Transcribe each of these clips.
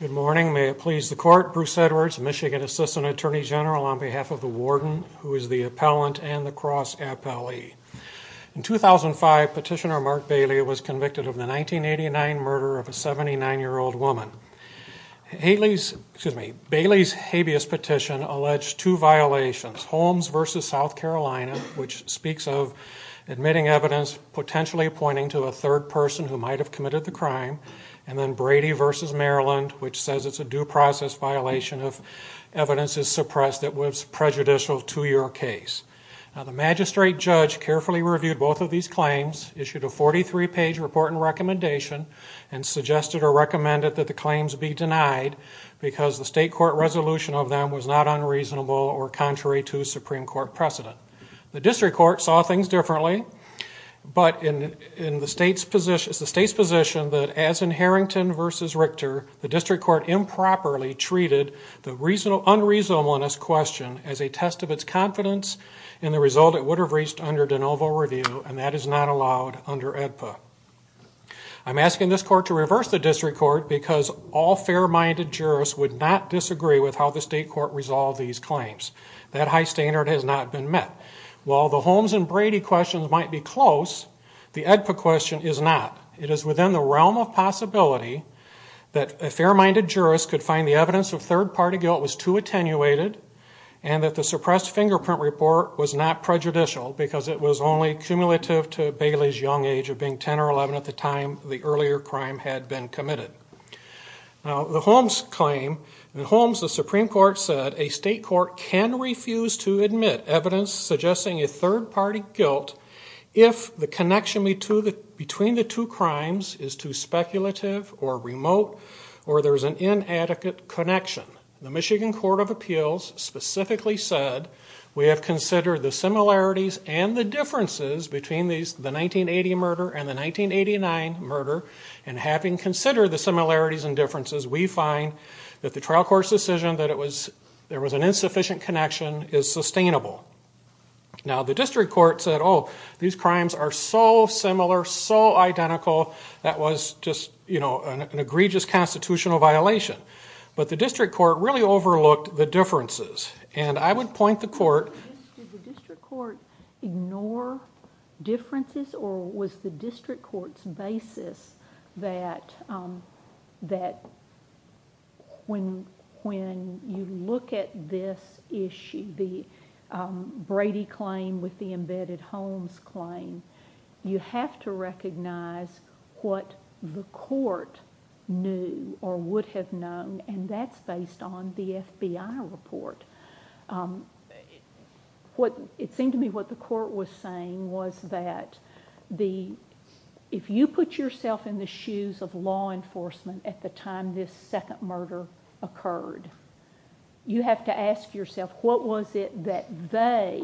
Good morning. May it please the court, Bruce Edwards, Michigan Assistant Attorney General on behalf of the warden who is the appellant and the cross appellee. In 2005, Petitioner Mark Bailey was convicted of the 1989 murder of a 79-year-old woman. Bailey's habeas petition alleged two violations, Holmes v. South Carolina, which speaks of admitting evidence potentially pointing to a third person who might have committed the crime, and then Brady v. Maryland, which says it's a due process violation if evidence is suppressed that was prejudicial to your case. The magistrate judge carefully reviewed both of these claims, issued a 43-page report and recommendation, and suggested or recommended that the claims be denied because the state court resolution of them was not unreasonable or contrary to Supreme Court precedent. The district court saw things differently, but it's the state's position that as in Harrington v. Richter, the district court improperly treated the unreasonableness question as a test of its confidence in the result it would have reached under de novo review, and that is not allowed under AEDPA. I'm asking this court to reverse the district court because all fair-minded jurists would not disagree with how the state court resolved these claims. That high standard has not been met. While the Holmes and Brady questions might be close, the AEDPA question is not. It is within the realm of possibility that a fair-minded jurist could find the evidence of third-party guilt was too attenuated, and that the suppressed fingerprint report was not prejudicial because it was only cumulative to Bailey's young age of being 10 or 11 at the time the earlier crime had been committed. Now, the Holmes claim, in Holmes the Supreme Court said a state court can refuse to admit evidence suggesting a third-party guilt if the connection between the two crimes is too speculative or remote or there's an inadequate connection. The Michigan Court of Appeals specifically said we have considered the similarities and the differences between the 1980 murder and the 1989 murder, and having considered the similarities and differences, we find that the trial court's decision that there was an insufficient connection is sustainable. Now, the district court said, oh, these crimes are so similar, so identical, that was just an egregious constitutional violation. But the district court really overlooked the differences, and I would point the court – Did the district court ignore differences, or was the district court's basis that when you look at this issue, the Brady claim with the embedded Holmes claim, you have to recognize what the court knew or would have known, and that's based on the FBI report. It seemed to me what the court was saying was that if you put yourself in the shoes of law enforcement at the time this second murder occurred, you have to ask yourself, what was it that they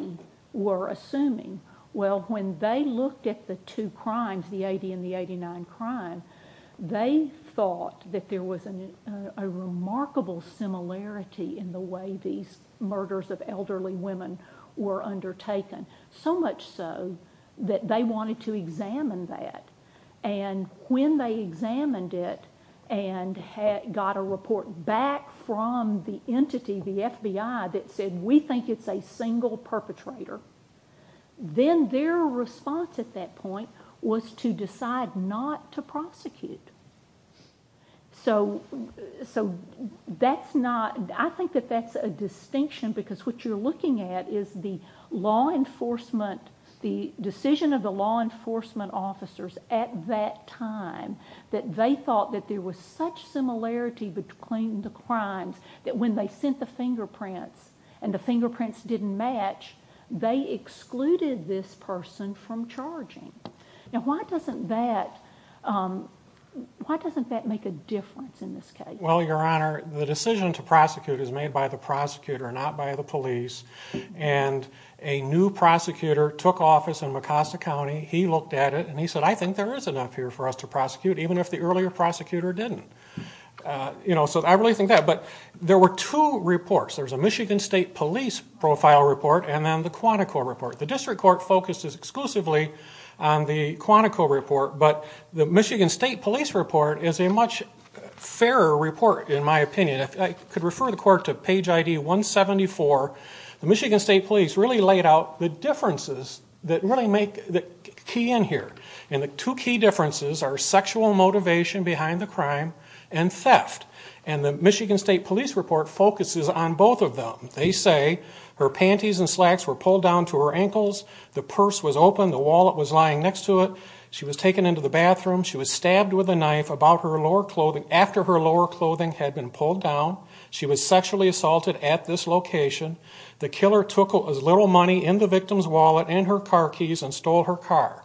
were assuming? Well, when they looked at the two crimes, the 1980 and the 1989 crime, they thought that there was a remarkable similarity in the way these murders of elderly women were undertaken, so much so that they wanted to examine that. And when they examined it, and got a report back from the entity, the FBI, that said, we think it's a single perpetrator, then their response at that point was to decide not to prosecute. So that's not – I think that that's a distinction, because what you're looking at is the law enforcement, the decision of the law enforcement officers at that time, that they thought that there was such similarity between the crimes that when they sent the fingerprints, and the fingerprints didn't match, they excluded this person from charging. Now why doesn't that make a difference in this case? Well Your Honor, the decision to prosecute is made by the prosecutor, not by the police, and a new prosecutor took office in Mecosta County, he looked at it, and he said, I think there is enough here for us to prosecute, even if the earlier prosecutor didn't. So I really think that, but there were two reports. There was a Michigan State Police profile report, and then the Quantico report. The District Court focuses exclusively on the Quantico report, but the Michigan State Police report is a much fairer report, in my opinion. I could refer the Court to page ID 174. The Michigan State Police really laid out the differences that really make the key in here, and the two key differences are sexual motivation behind the crime, and theft. And the Michigan State Police report focuses on both of them. They say, her panties and slacks were pulled down to her ankles, the purse was open, the wallet was lying next to it, she was taken into the bathroom, she was stabbed with a gun, she was sexually assaulted at this location, the killer took as little money in the victim's wallet and her car keys, and stole her car.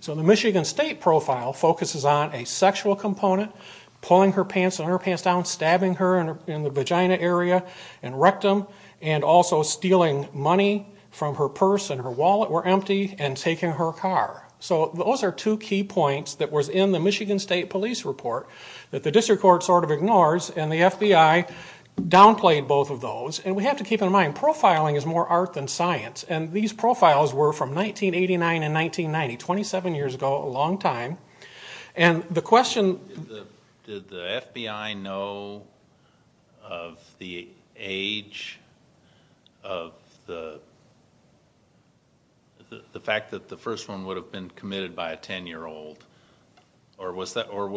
So the Michigan State profile focuses on a sexual component, pulling her pants and her pants down, stabbing her in the vagina area, and rectum, and also stealing money from her purse and her wallet were empty, and taking her car. So those are two key points that was in the Michigan State Police report, that the District Court sort of ignores, and the FBI downplayed both of those. And we have to keep in mind, profiling is more art than science, and these profiles were from 1989 and 1990, 27 years ago, a long time. And the question... Did the FBI know of the age of the... the fact that the first one would have been committed by a 10-year-old, or was the... or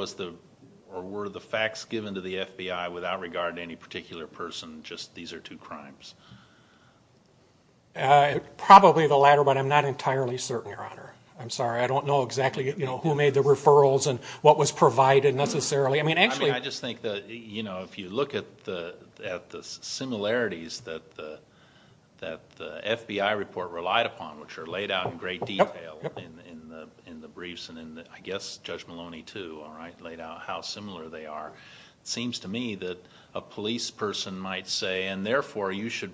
were the facts given to the FBI without regard to any particular person, just these are two crimes? Probably the latter, but I'm not entirely certain, Your Honor. I'm sorry, I don't know exactly, you know, who made the referrals and what was provided, necessarily. I mean, actually... I mean, I just think that, you know, if you look at the similarities that the FBI report relied upon, which are laid out in great detail in the briefs, and I guess Judge Maloney too, all right, laid out how similar they are, it seems to me that a police person might say, and therefore you should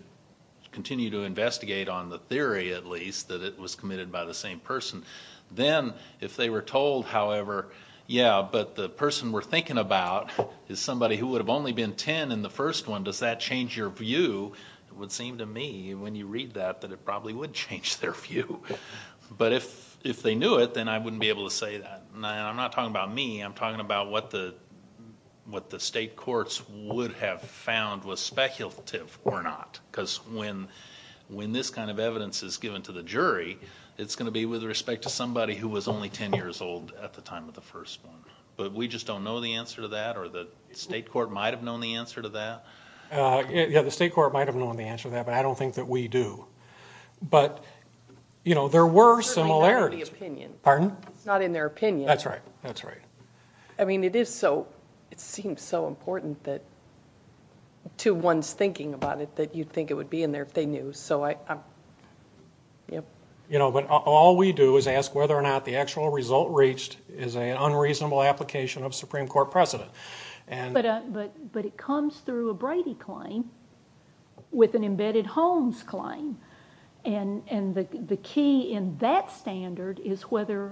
continue to investigate on the theory, at least, that it was committed by the same person. Then, if they were told, however, yeah, but the person we're thinking about is somebody who would have only been 10 in the first one, does that change your view? It would seem to me, when you read that, that it probably would change their view, but if they knew it, then I wouldn't be able to say that, and I'm not talking about me, I'm talking about what the state courts would have found was speculative or not, because when this kind of evidence is given to the jury, it's going to be with respect to somebody who was only 10 years old at the time of the first one, but we just don't know the answer to that, or the state court might have known the answer to that. Yeah, the state court might have known the answer to that, but I don't think that we do. But, you know, there were similarities. Certainly not in the opinion. Pardon? Not in their opinion. That's right, that's right. I mean, it is so, it seems so important that, to one's thinking about it, that you'd think it would be in there if they knew, so I, yep. You know, but all we do is ask whether or not the actual result reached is an unreasonable application of Supreme Court precedent. But it comes through a Brady claim with an embedded Holmes claim, and the key in that standard is whether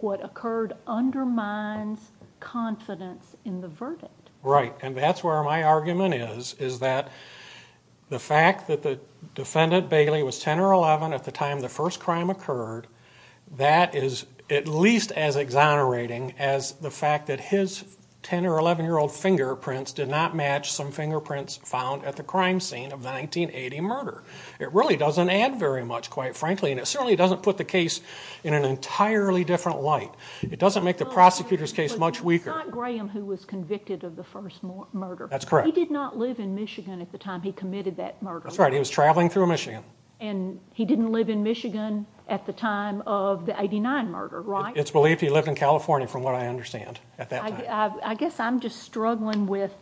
what occurred undermines confidence in the verdict. Right, and that's where my argument is, is that the fact that the defendant, Bailey, was 10 or 11 at the time the first crime occurred, that is at least as exonerating as the fact that his 10 or 11-year-old fingerprints did not match some fingerprints found at the crime scene of the 1980 murder. It really doesn't add very much, quite frankly, and it certainly doesn't put the case in an entirely different light. It doesn't make the prosecutor's case much weaker. Well, it's not Graham who was convicted of the first murder. That's correct. He did not live in Michigan at the time he committed that murder. That's right, he was traveling through Michigan. And he didn't live in Michigan at the time of the murder. He was in California, from what I understand, at that time. I guess I'm just struggling with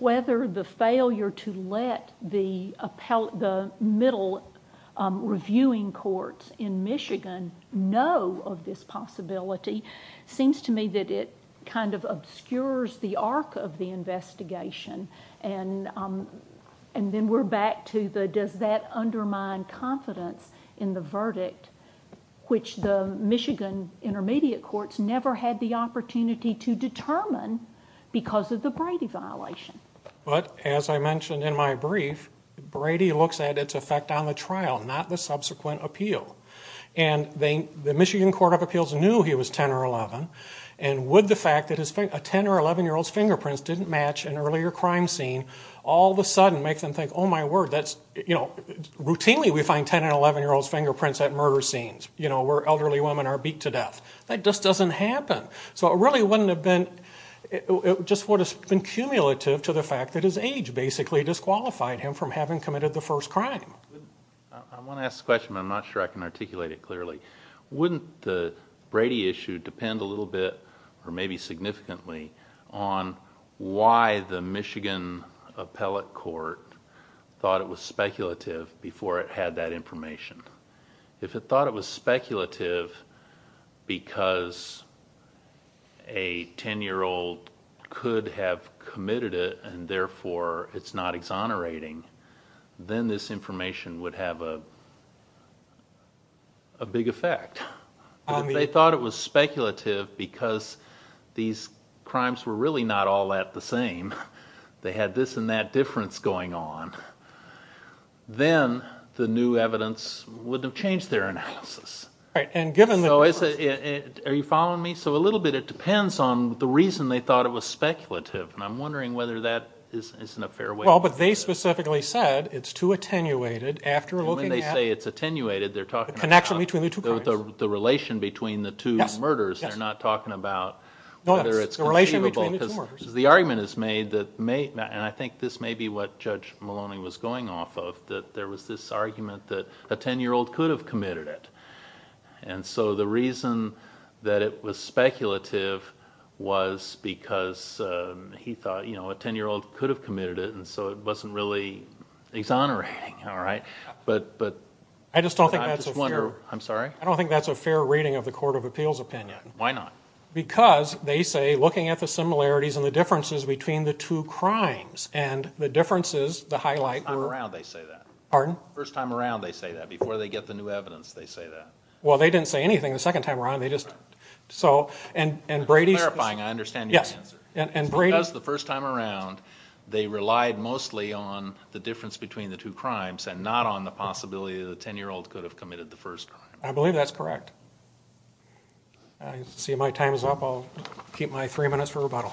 whether the failure to let the middle reviewing courts in Michigan know of this possibility. It seems to me that it kind of obscures the arc of the investigation, and then we're back to the does that undermine confidence in the verdict, which the Michigan intermediate courts never had the opportunity to determine because of the Brady violation. But as I mentioned in my brief, Brady looks at its effect on the trial, not the subsequent appeal. And the Michigan Court of Appeals knew he was 10 or 11, and would the fact that a 10 or 11-year-old's fingerprints didn't match an earlier crime scene all of a sudden make them think, oh my word, that's, you know, routinely we find 10 and 11-year-old's fingerprints at murder scenes, you know, where elderly women are beat to death. That just doesn't happen. So it really wouldn't have been, it just would have been cumulative to the fact that his age basically disqualified him from having committed the first crime. I want to ask a question, but I'm not sure I can articulate it clearly. Wouldn't the Brady issue depend a little bit, or maybe significantly, on why the Michigan appellate court thought it was speculative before it had that information? If it thought it was speculative because a 10-year-old could have committed it, and therefore it's not exonerating, then this information would have a big effect. If they thought it was speculative because these crimes were really not all that the same, they had this and that difference going on, then the new evidence wouldn't have changed their analysis. Right. And given the difference. Are you following me? So a little bit, it depends on the reason they thought it was speculative, and I'm wondering whether that isn't a fair way to look at it. Well, but they specifically said it's too attenuated after looking at... And when they say it's attenuated, they're talking about... The connection between the two crimes. The relation between the two murders, they're not talking about whether it's conceivable. The relation between the two murders. Because the argument is made, and I think this may be what Judge Maloney was going off of, that there was this argument that a 10-year-old could have committed it. And so the reason that it was speculative was because he thought a 10-year-old could have committed it, and so it wasn't really exonerating, all right? I just don't think that's a fair... I'm sorry? I don't think that's a fair reading of the Court of Appeals opinion. Why not? Because they say, looking at the similarities and the differences between the two crimes, and the differences, the highlight... First time around, they say that. Pardon? First time around, they say that. Before they get the new evidence, they say that. Well, they didn't say anything the second time around. They just... So and Brady... It's clarifying. I understand your answer. And Brady... Because the first time around, they relied mostly on the difference between the two crimes and not on the possibility that a 10-year-old could have committed the first crime. I believe that's correct. I see my time is up. I'll keep my three minutes for rebuttal.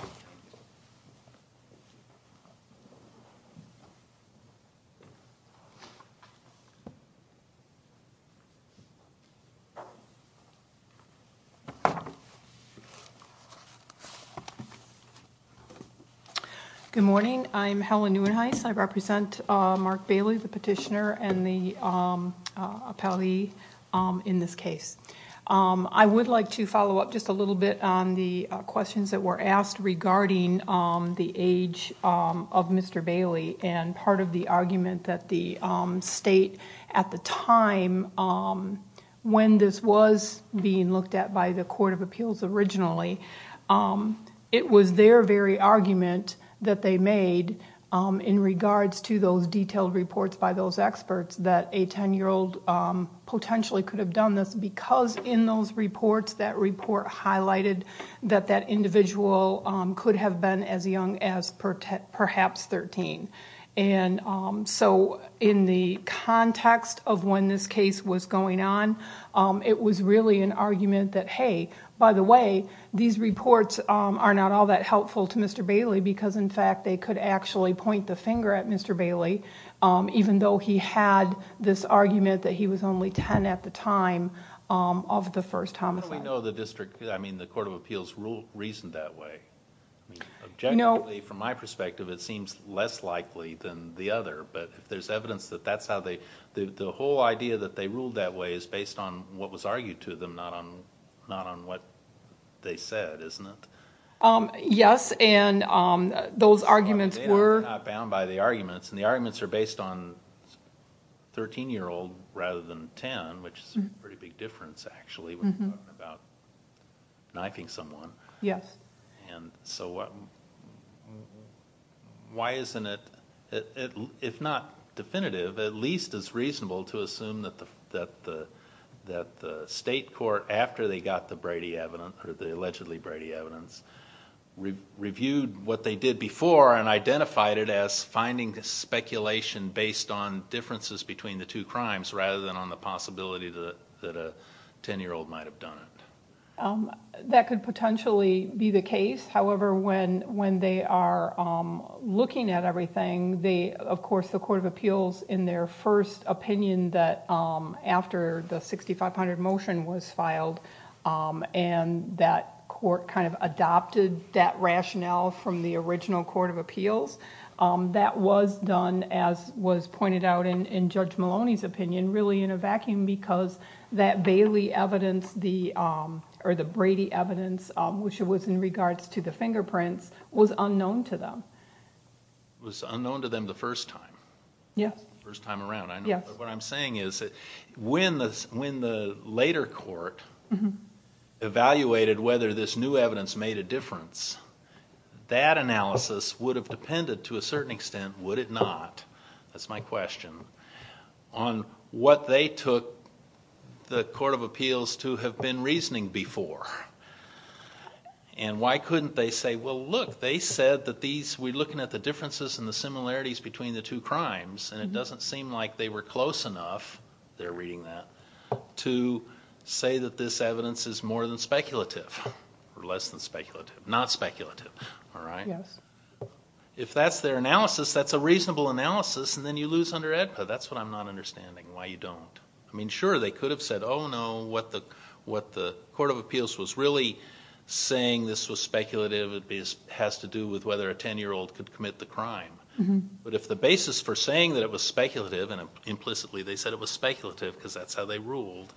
Good morning. I'm Helen Neuenhuis. I represent Mark Bailey, the petitioner, and the appellee in this case. I would like to follow up just a little bit on the questions that were asked regarding the age of Mr. Bailey and part of the argument that the state at the time, when this was being looked at by the Court of Appeals originally, it was their very argument that they made in regards to those detailed reports by those experts that a 10-year-old potentially could have done this because in those reports, that individual could have been as young as perhaps 13. So in the context of when this case was going on, it was really an argument that, hey, by the way, these reports are not all that helpful to Mr. Bailey because, in fact, they could actually point the finger at Mr. Bailey even though he had this argument that he was only 10 at the time of the first homicide. How do we know the district... I mean, the Court of Appeals reasoned that way? Objectively, from my perspective, it seems less likely than the other, but if there's evidence that that's how they... The whole idea that they ruled that way is based on what was argued to them, not on what they said, isn't it? Yes, and those arguments were... But they were not bound by the arguments, and the arguments are based on 13-year-old rather than 10, which is a pretty big difference, actually, when you're talking about knifing someone, and so why isn't it, if not definitive, at least it's reasonable to assume that the state court, after they got the Brady evidence, or the allegedly Brady evidence, reviewed what they did before and identified it as finding speculation based on differences between the two crimes rather than on the possibility that a 10-year-old might have done it? That could potentially be the case. However, when they are looking at everything, of course, the Court of Appeals, in their first opinion that after the 6500 motion was filed and that court kind of adopted that rationale from the original Court of Appeals, that was done, as was pointed out in Judge Maloney's opinion, really in a vacuum because that Bailey evidence, or the Brady evidence, which was in regards to the fingerprints, was unknown to them. Was unknown to them the first time? Yes. The first time around, I know. But what I'm saying is that when the later court evaluated whether this new evidence made a difference, that analysis would have depended to a certain extent, would it not? That's my question. On what they took the Court of Appeals to have been reasoning before. And why couldn't they say, well, look, they said that these, we're looking at the differences and the similarities between the two crimes, and it doesn't seem like they were close enough, they're reading that, to say that this evidence is more than a hypothesis, that's a reasonable analysis, and then you lose under AEDPA. That's what I'm not understanding, why you don't. I mean, sure, they could have said, oh, no, what the Court of Appeals was really saying, this was speculative, it has to do with whether a ten-year-old could commit the crime. But if the basis for saying that it was speculative, and implicitly they said it was speculative because that's how they ruled,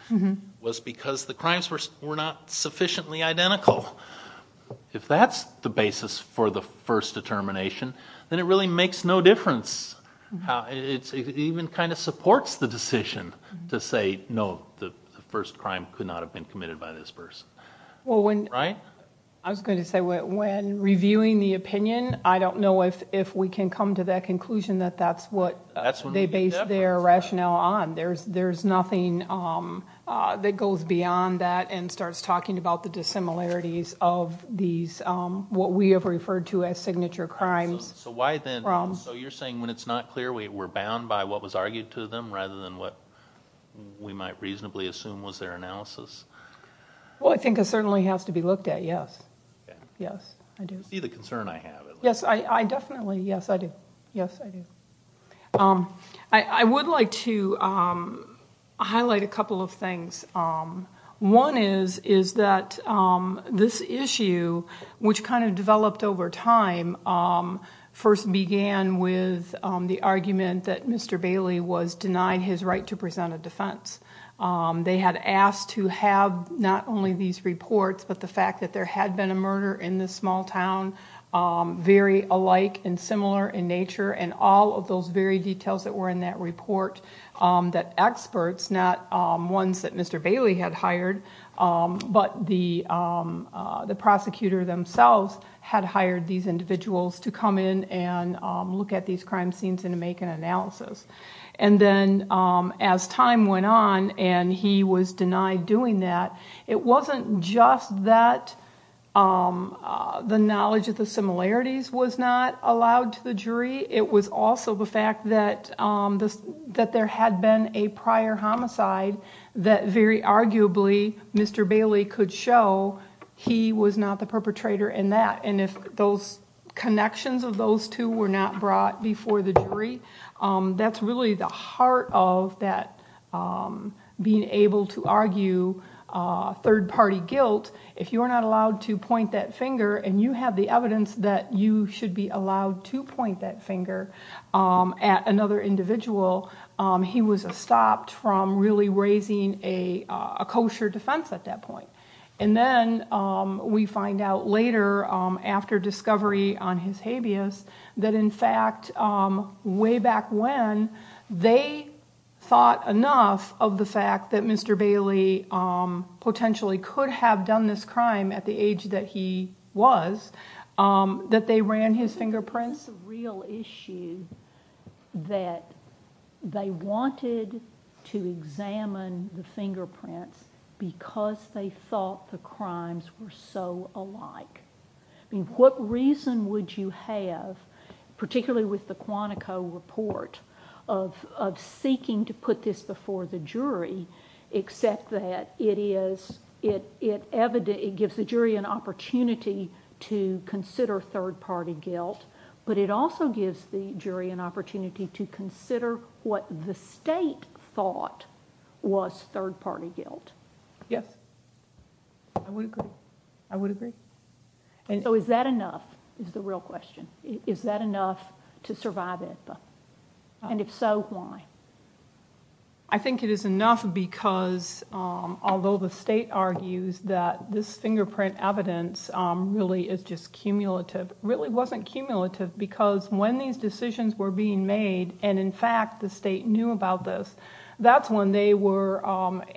was because the crimes were not sufficiently identical. If that's the basis for the first determination, then it really makes no difference. It even kind of supports the decision to say, no, the first crime could not have been committed by this person. Well, when, I was going to say, when reviewing the opinion, I don't know if we can come to that conclusion that that's what they based their rationale on. There's nothing that goes beyond that and starts talking about the dissimilarities of these, what we have referred to as signature crimes. So why then, so you're saying when it's not clear, we're bound by what was argued to them rather than what we might reasonably assume was their analysis? Well, I think it certainly has to be looked at, yes. You see the concern I have, at least. Yes, I definitely, yes, I do. Yes, I do. I would like to highlight a couple of things. One is that this issue, which kind of developed over time, first began with the argument that Mr. Bailey was denied his right to present a defense. They had asked to have not only these reports, but the fact that there had been a murder in this small town, very alike and similar in nature, and all of those very details that were in that report that experts, not ones that Mr. Bailey had hired, but the individuals to come in and look at these crime scenes and make an analysis. And then as time went on and he was denied doing that, it wasn't just that the knowledge of the similarities was not allowed to the jury. It was also the fact that there had been a prior homicide that very arguably Mr. Bailey could show he was not the perpetrator in that. And if those connections of those two were not brought before the jury, that's really the heart of that being able to argue third-party guilt. If you're not allowed to point that finger and you have the evidence that you should be allowed to point that finger at another individual, he was stopped from really raising a kosher defense at that point. And then we find out later, after discovery on his habeas, that in fact, way back when, they thought enough of the fact that Mr. Bailey potentially could have done this crime at the age that he was, that they ran his fingerprints. That's a real issue that they wanted to examine the fingerprints because they thought the crimes were so alike. What reason would you have, particularly with the Quantico report, of seeking to put this before the jury except that it gives the jury an opportunity to consider third-party guilt, but it also gives the jury an opportunity to consider what the state thought was third-party guilt? Yes. I would agree. I would agree. Is that enough, is the real question. Is that enough to survive Ithaca? And if so, why? I think it is enough because although the state argues that this fingerprint evidence really is just cumulative, it really wasn't cumulative because when these decisions were being made and in fact the state knew about this, that's when they were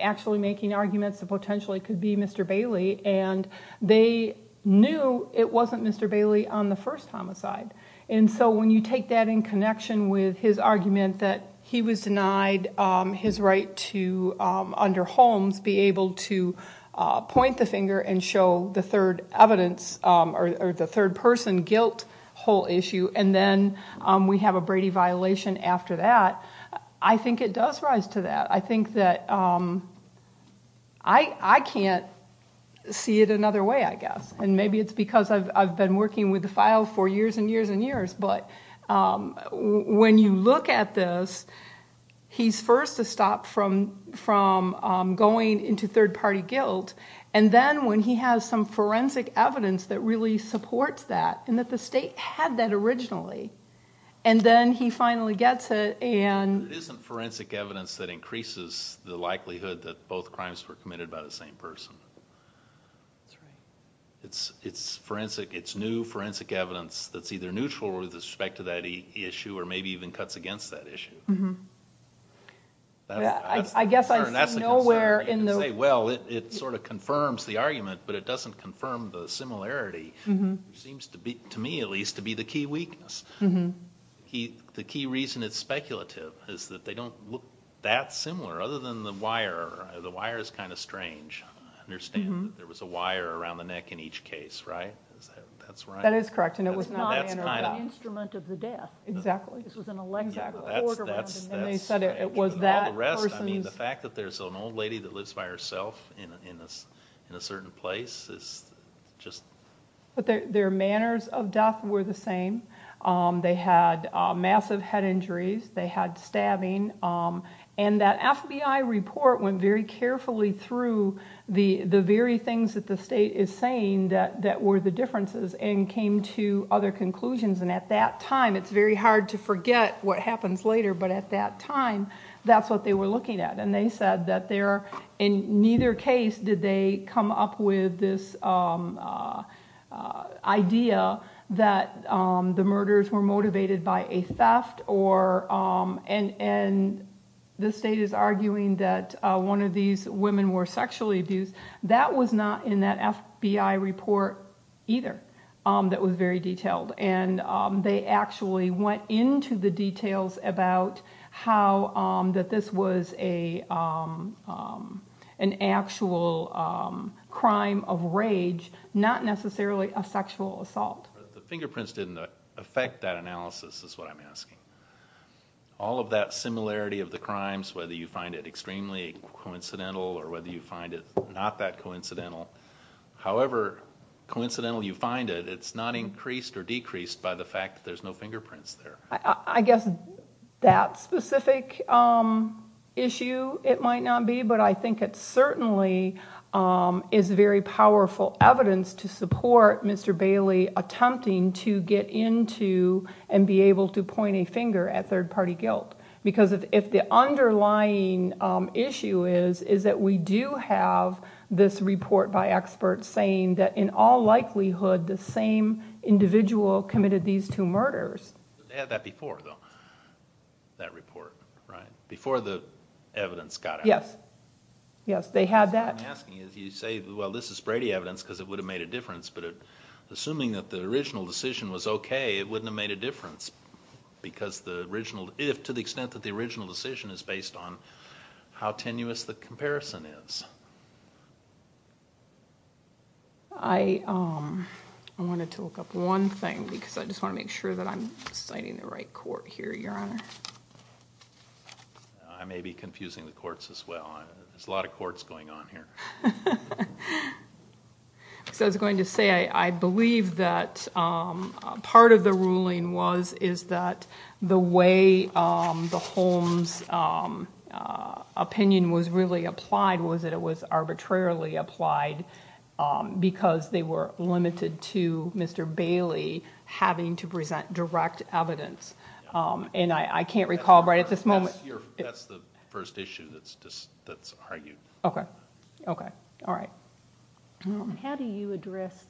actually making arguments that potentially it could be Mr. Bailey and they knew it wasn't Mr. Bailey on the first homicide. And so when you take that in connection with his argument that he was denied his right to, under Holmes, be able to point the finger and show the third person guilt whole issue and then we have a Brady violation after that, I think it does rise to that. I think that I can't see it another way, I guess. And maybe it's because I've been working with the file for years and years and years, but when you look at this, he's first stopped from going into third-party guilt and then when he has some forensic evidence that really supports that and that the state had that originally, and then he finally gets it and... It isn't forensic evidence that increases the likelihood that both crimes were committed by the same person. It's forensic, it's new forensic evidence that's either neutral with respect to that issue or maybe even cuts against that issue. I guess I see nowhere in the... There seems to be, to me at least, to be the key weakness. The key reason it's speculative is that they don't look that similar, other than the wire. The wire is kind of strange. I understand that there was a wire around the neck in each case, right? That is correct and it was not an instrument of the death. Exactly. This was an electrical cord around it and they said it was that person's... The fact that there's an old lady that lives by herself in a certain place is just... Their manners of death were the same. They had massive head injuries, they had stabbing, and that FBI report went very carefully through the very things that the state is saying that were the differences and came to other conclusions and at that time, it's very hard to forget what happens later, but at that time, that's what they were looking at. They said that in neither case did they come up with this idea that the murders were motivated by a theft and the state is arguing that one of these women were sexually abused. That was not in that FBI report either that was very detailed. They actually went into the details about how that this was an actual crime of rage, not necessarily a sexual assault. The fingerprints didn't affect that analysis is what I'm asking. All of that similarity of the crimes, whether you find it extremely coincidental or whether you find it not that coincidental, however coincidental you find it, it's not increased or decreased by the fact that there's no fingerprints there. I guess that specific issue it might not be, but I think it certainly is very powerful evidence to support Mr. Bailey attempting to get into and be able to point a finger at third party guilt because if the underlying issue is that we do have this report by experts saying that in all likelihood the same individual committed these two murders. They had that before though, that report, right? Before the evidence got out. Yes. They had that. What I'm asking is you say, well, this is Brady evidence because it would have made a difference, but assuming that the original decision was okay, it wouldn't have made a difference because the original, if to the extent that the original decision is based on how tenuous the comparison is. I wanted to look up one thing because I just want to make sure that I'm citing the right court here, Your Honor. I may be confusing the courts as well. There's a lot of courts going on here. I was going to say, I believe that part of the ruling was is that the way the Holmes opinion was really applied was that it was arbitrarily applied because they were limited to Mr. Bailey having to present direct evidence. I can't recall, but at this moment... That's the first issue that's argued. Okay. Okay. All right. How do you address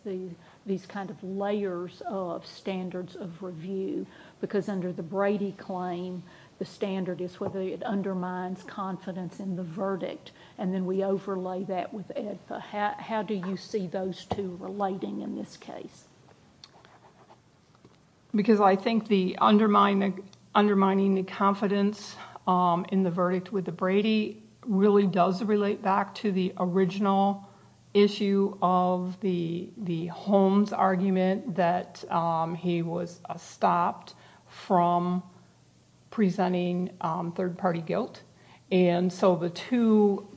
these kind of layers of standards of review because under the Brady claim, the standard is whether it undermines confidence in the verdict, and then we overlay that with Ed. How do you see those two relating in this case? Because I think the undermining the confidence in the verdict with the Brady really does relate back to the original issue of the Holmes argument that he was stopped from presenting third party guilt. The two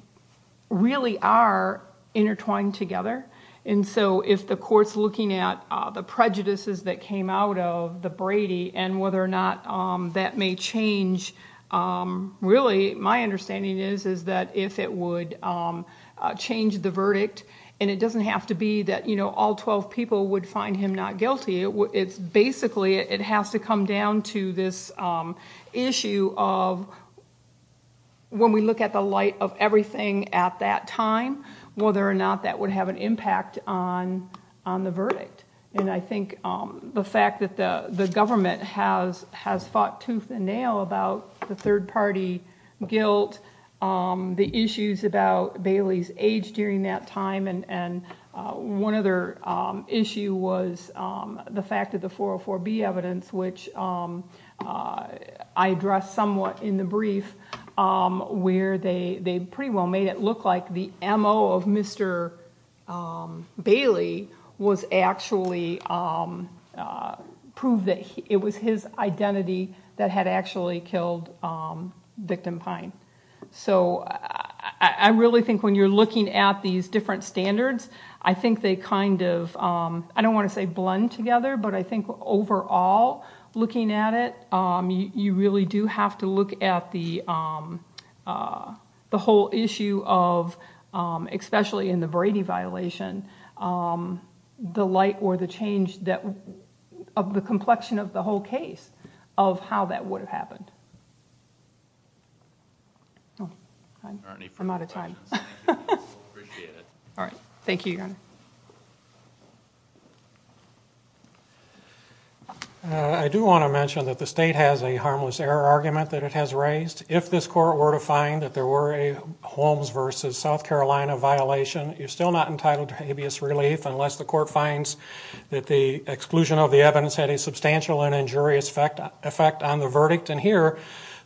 really are intertwined together. If the court's looking at the prejudices that came out of the Brady and whether or not that may change, really my understanding is that if it would change the verdict, and it doesn't have to be that all 12 people would find him not guilty, it's basically it has to come down to this issue of when we look at the light of everything at that time, whether or not that would have an impact on the verdict. I think the fact that the government has fought tooth and nail about the third party guilt, the issues about Bailey's age during that time, and one other issue was the fact of the 404B evidence, which I addressed somewhat in the brief where they pretty well made it clear that Mr. Bailey was actually, proved that it was his identity that had actually killed victim Pine. I really think when you're looking at these different standards, I think they kind of, I don't want to say blend together, but I think overall looking at it, you really do have to look at the whole issue of, especially in the Brady violation, the light or the change of the complexion of the whole case of how that would have happened. I'm out of time. Thank you, Your Honor. I do want to mention that the state has a harmless error argument that it has raised. If this court were to find that there were a Holmes versus South Carolina violation, you're still not entitled to habeas relief unless the court finds that the exclusion of the evidence had a substantial and injurious effect on the verdict, and here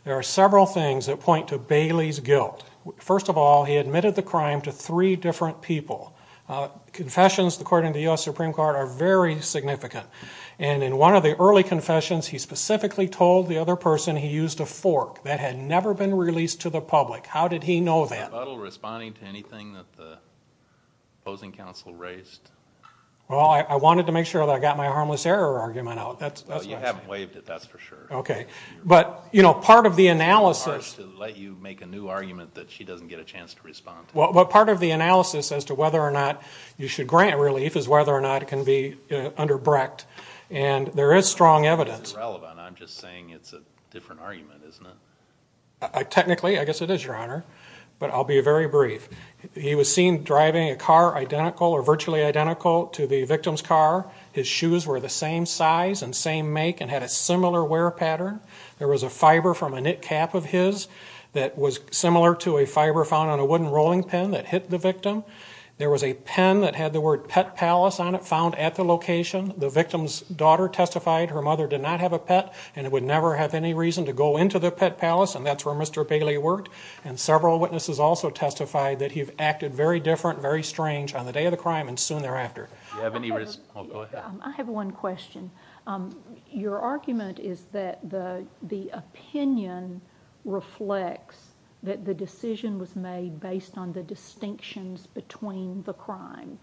there are several things that point to Bailey's guilt. First of all, he admitted the crime to three different people. Confessions according to the U.S. Supreme Court are very significant, and in one of the early confessions, he specifically told the other person he used a fork that had never been released to the public. How did he know that? Are you responding to anything that the opposing counsel raised? Well, I wanted to make sure that I got my harmless error argument out. You haven't waived it, that's for sure. But part of the analysis is to whether or not you should grant relief is whether or not it can be underbreaked, and there is strong evidence. This is irrelevant. I'm just saying it's a different argument, isn't it? Technically, I guess it is, Your Honor, but I'll be very brief. He was seen driving a car identical or virtually identical to the victim's car. His shoes were the same size and same make and had a similar wear pattern. There was a fiber from a knit cap of his that was similar to a fiber found on a wooden rolling pen that hit the victim. There was a pen that had the word Pet Palace on it found at the location. The victim's daughter testified her mother did not have a pet and would never have any reason to go into the Pet Palace, and that's where Mr. Bailey worked. And several witnesses also testified that he acted very different, very strange on the day of the crime and soon thereafter. Do you have any response? Go ahead. I have one question. Your argument is that the opinion reflects that the decision was made based on the distinctions between the crime.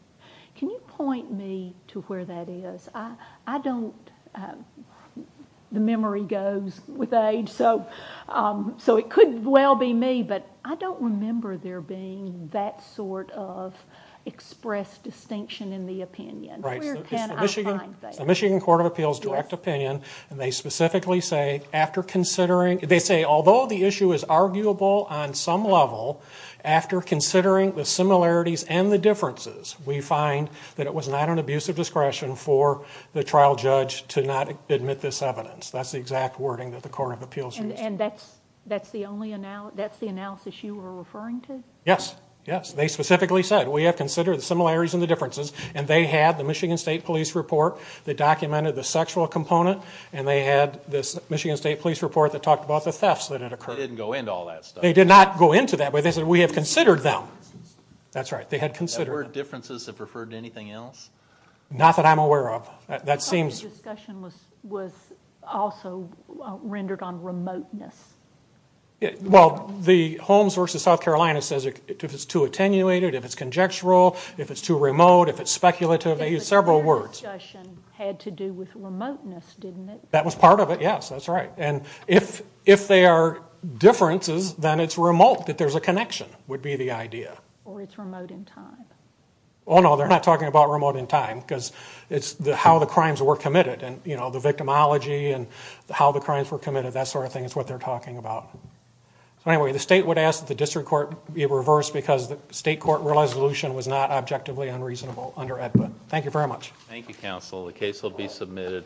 Can you point me to where that is? I don't the memory goes with age, so it could well be me, but I don't remember there being that sort of expressed distinction in the opinion. Where can I find that? It's the Michigan Court of Appeals Direct Opinion, and they specifically say, although the issue is arguable on some level, after considering the similarities and the differences, we find that it was not an abuse of discretion for the trial judge to not admit this evidence. That's the exact wording that the Court of Appeals used. And that's the analysis you were referring to? Yes. Yes. They specifically said, we have considered the similarities and the differences, and they had the Michigan State Police report that documented the sexual component, and they had this Michigan State Police report that talked about the thefts that had occurred. They didn't go into all that stuff. They did not go into that, but they said, we have considered them. That's right. They had considered them. Were differences referred to anything else? Not that I'm aware of. That seems... The discussion was also rendered on remoteness. Well, the Holmes versus South Carolina says, if it's too attenuated, if it's conjectural, if it's too remote, if it's speculative, they use several words. But their discussion had to do with remoteness, didn't it? That was part of it, yes. That's right. And if they are differences, then it's remote, that there's a connection, would be the idea. Or it's remote in time. Oh, no. They're not talking about remote in time, because it's how the crimes were committed and, you know, the victimology and how the crimes were committed, that sort of thing is what they're talking about. So, anyway, the state would ask that the district court be reversed, because the state court resolution was not objectively unreasonable under AEDPA. Thank you very much. Thank you, counsel. The case will be submitted.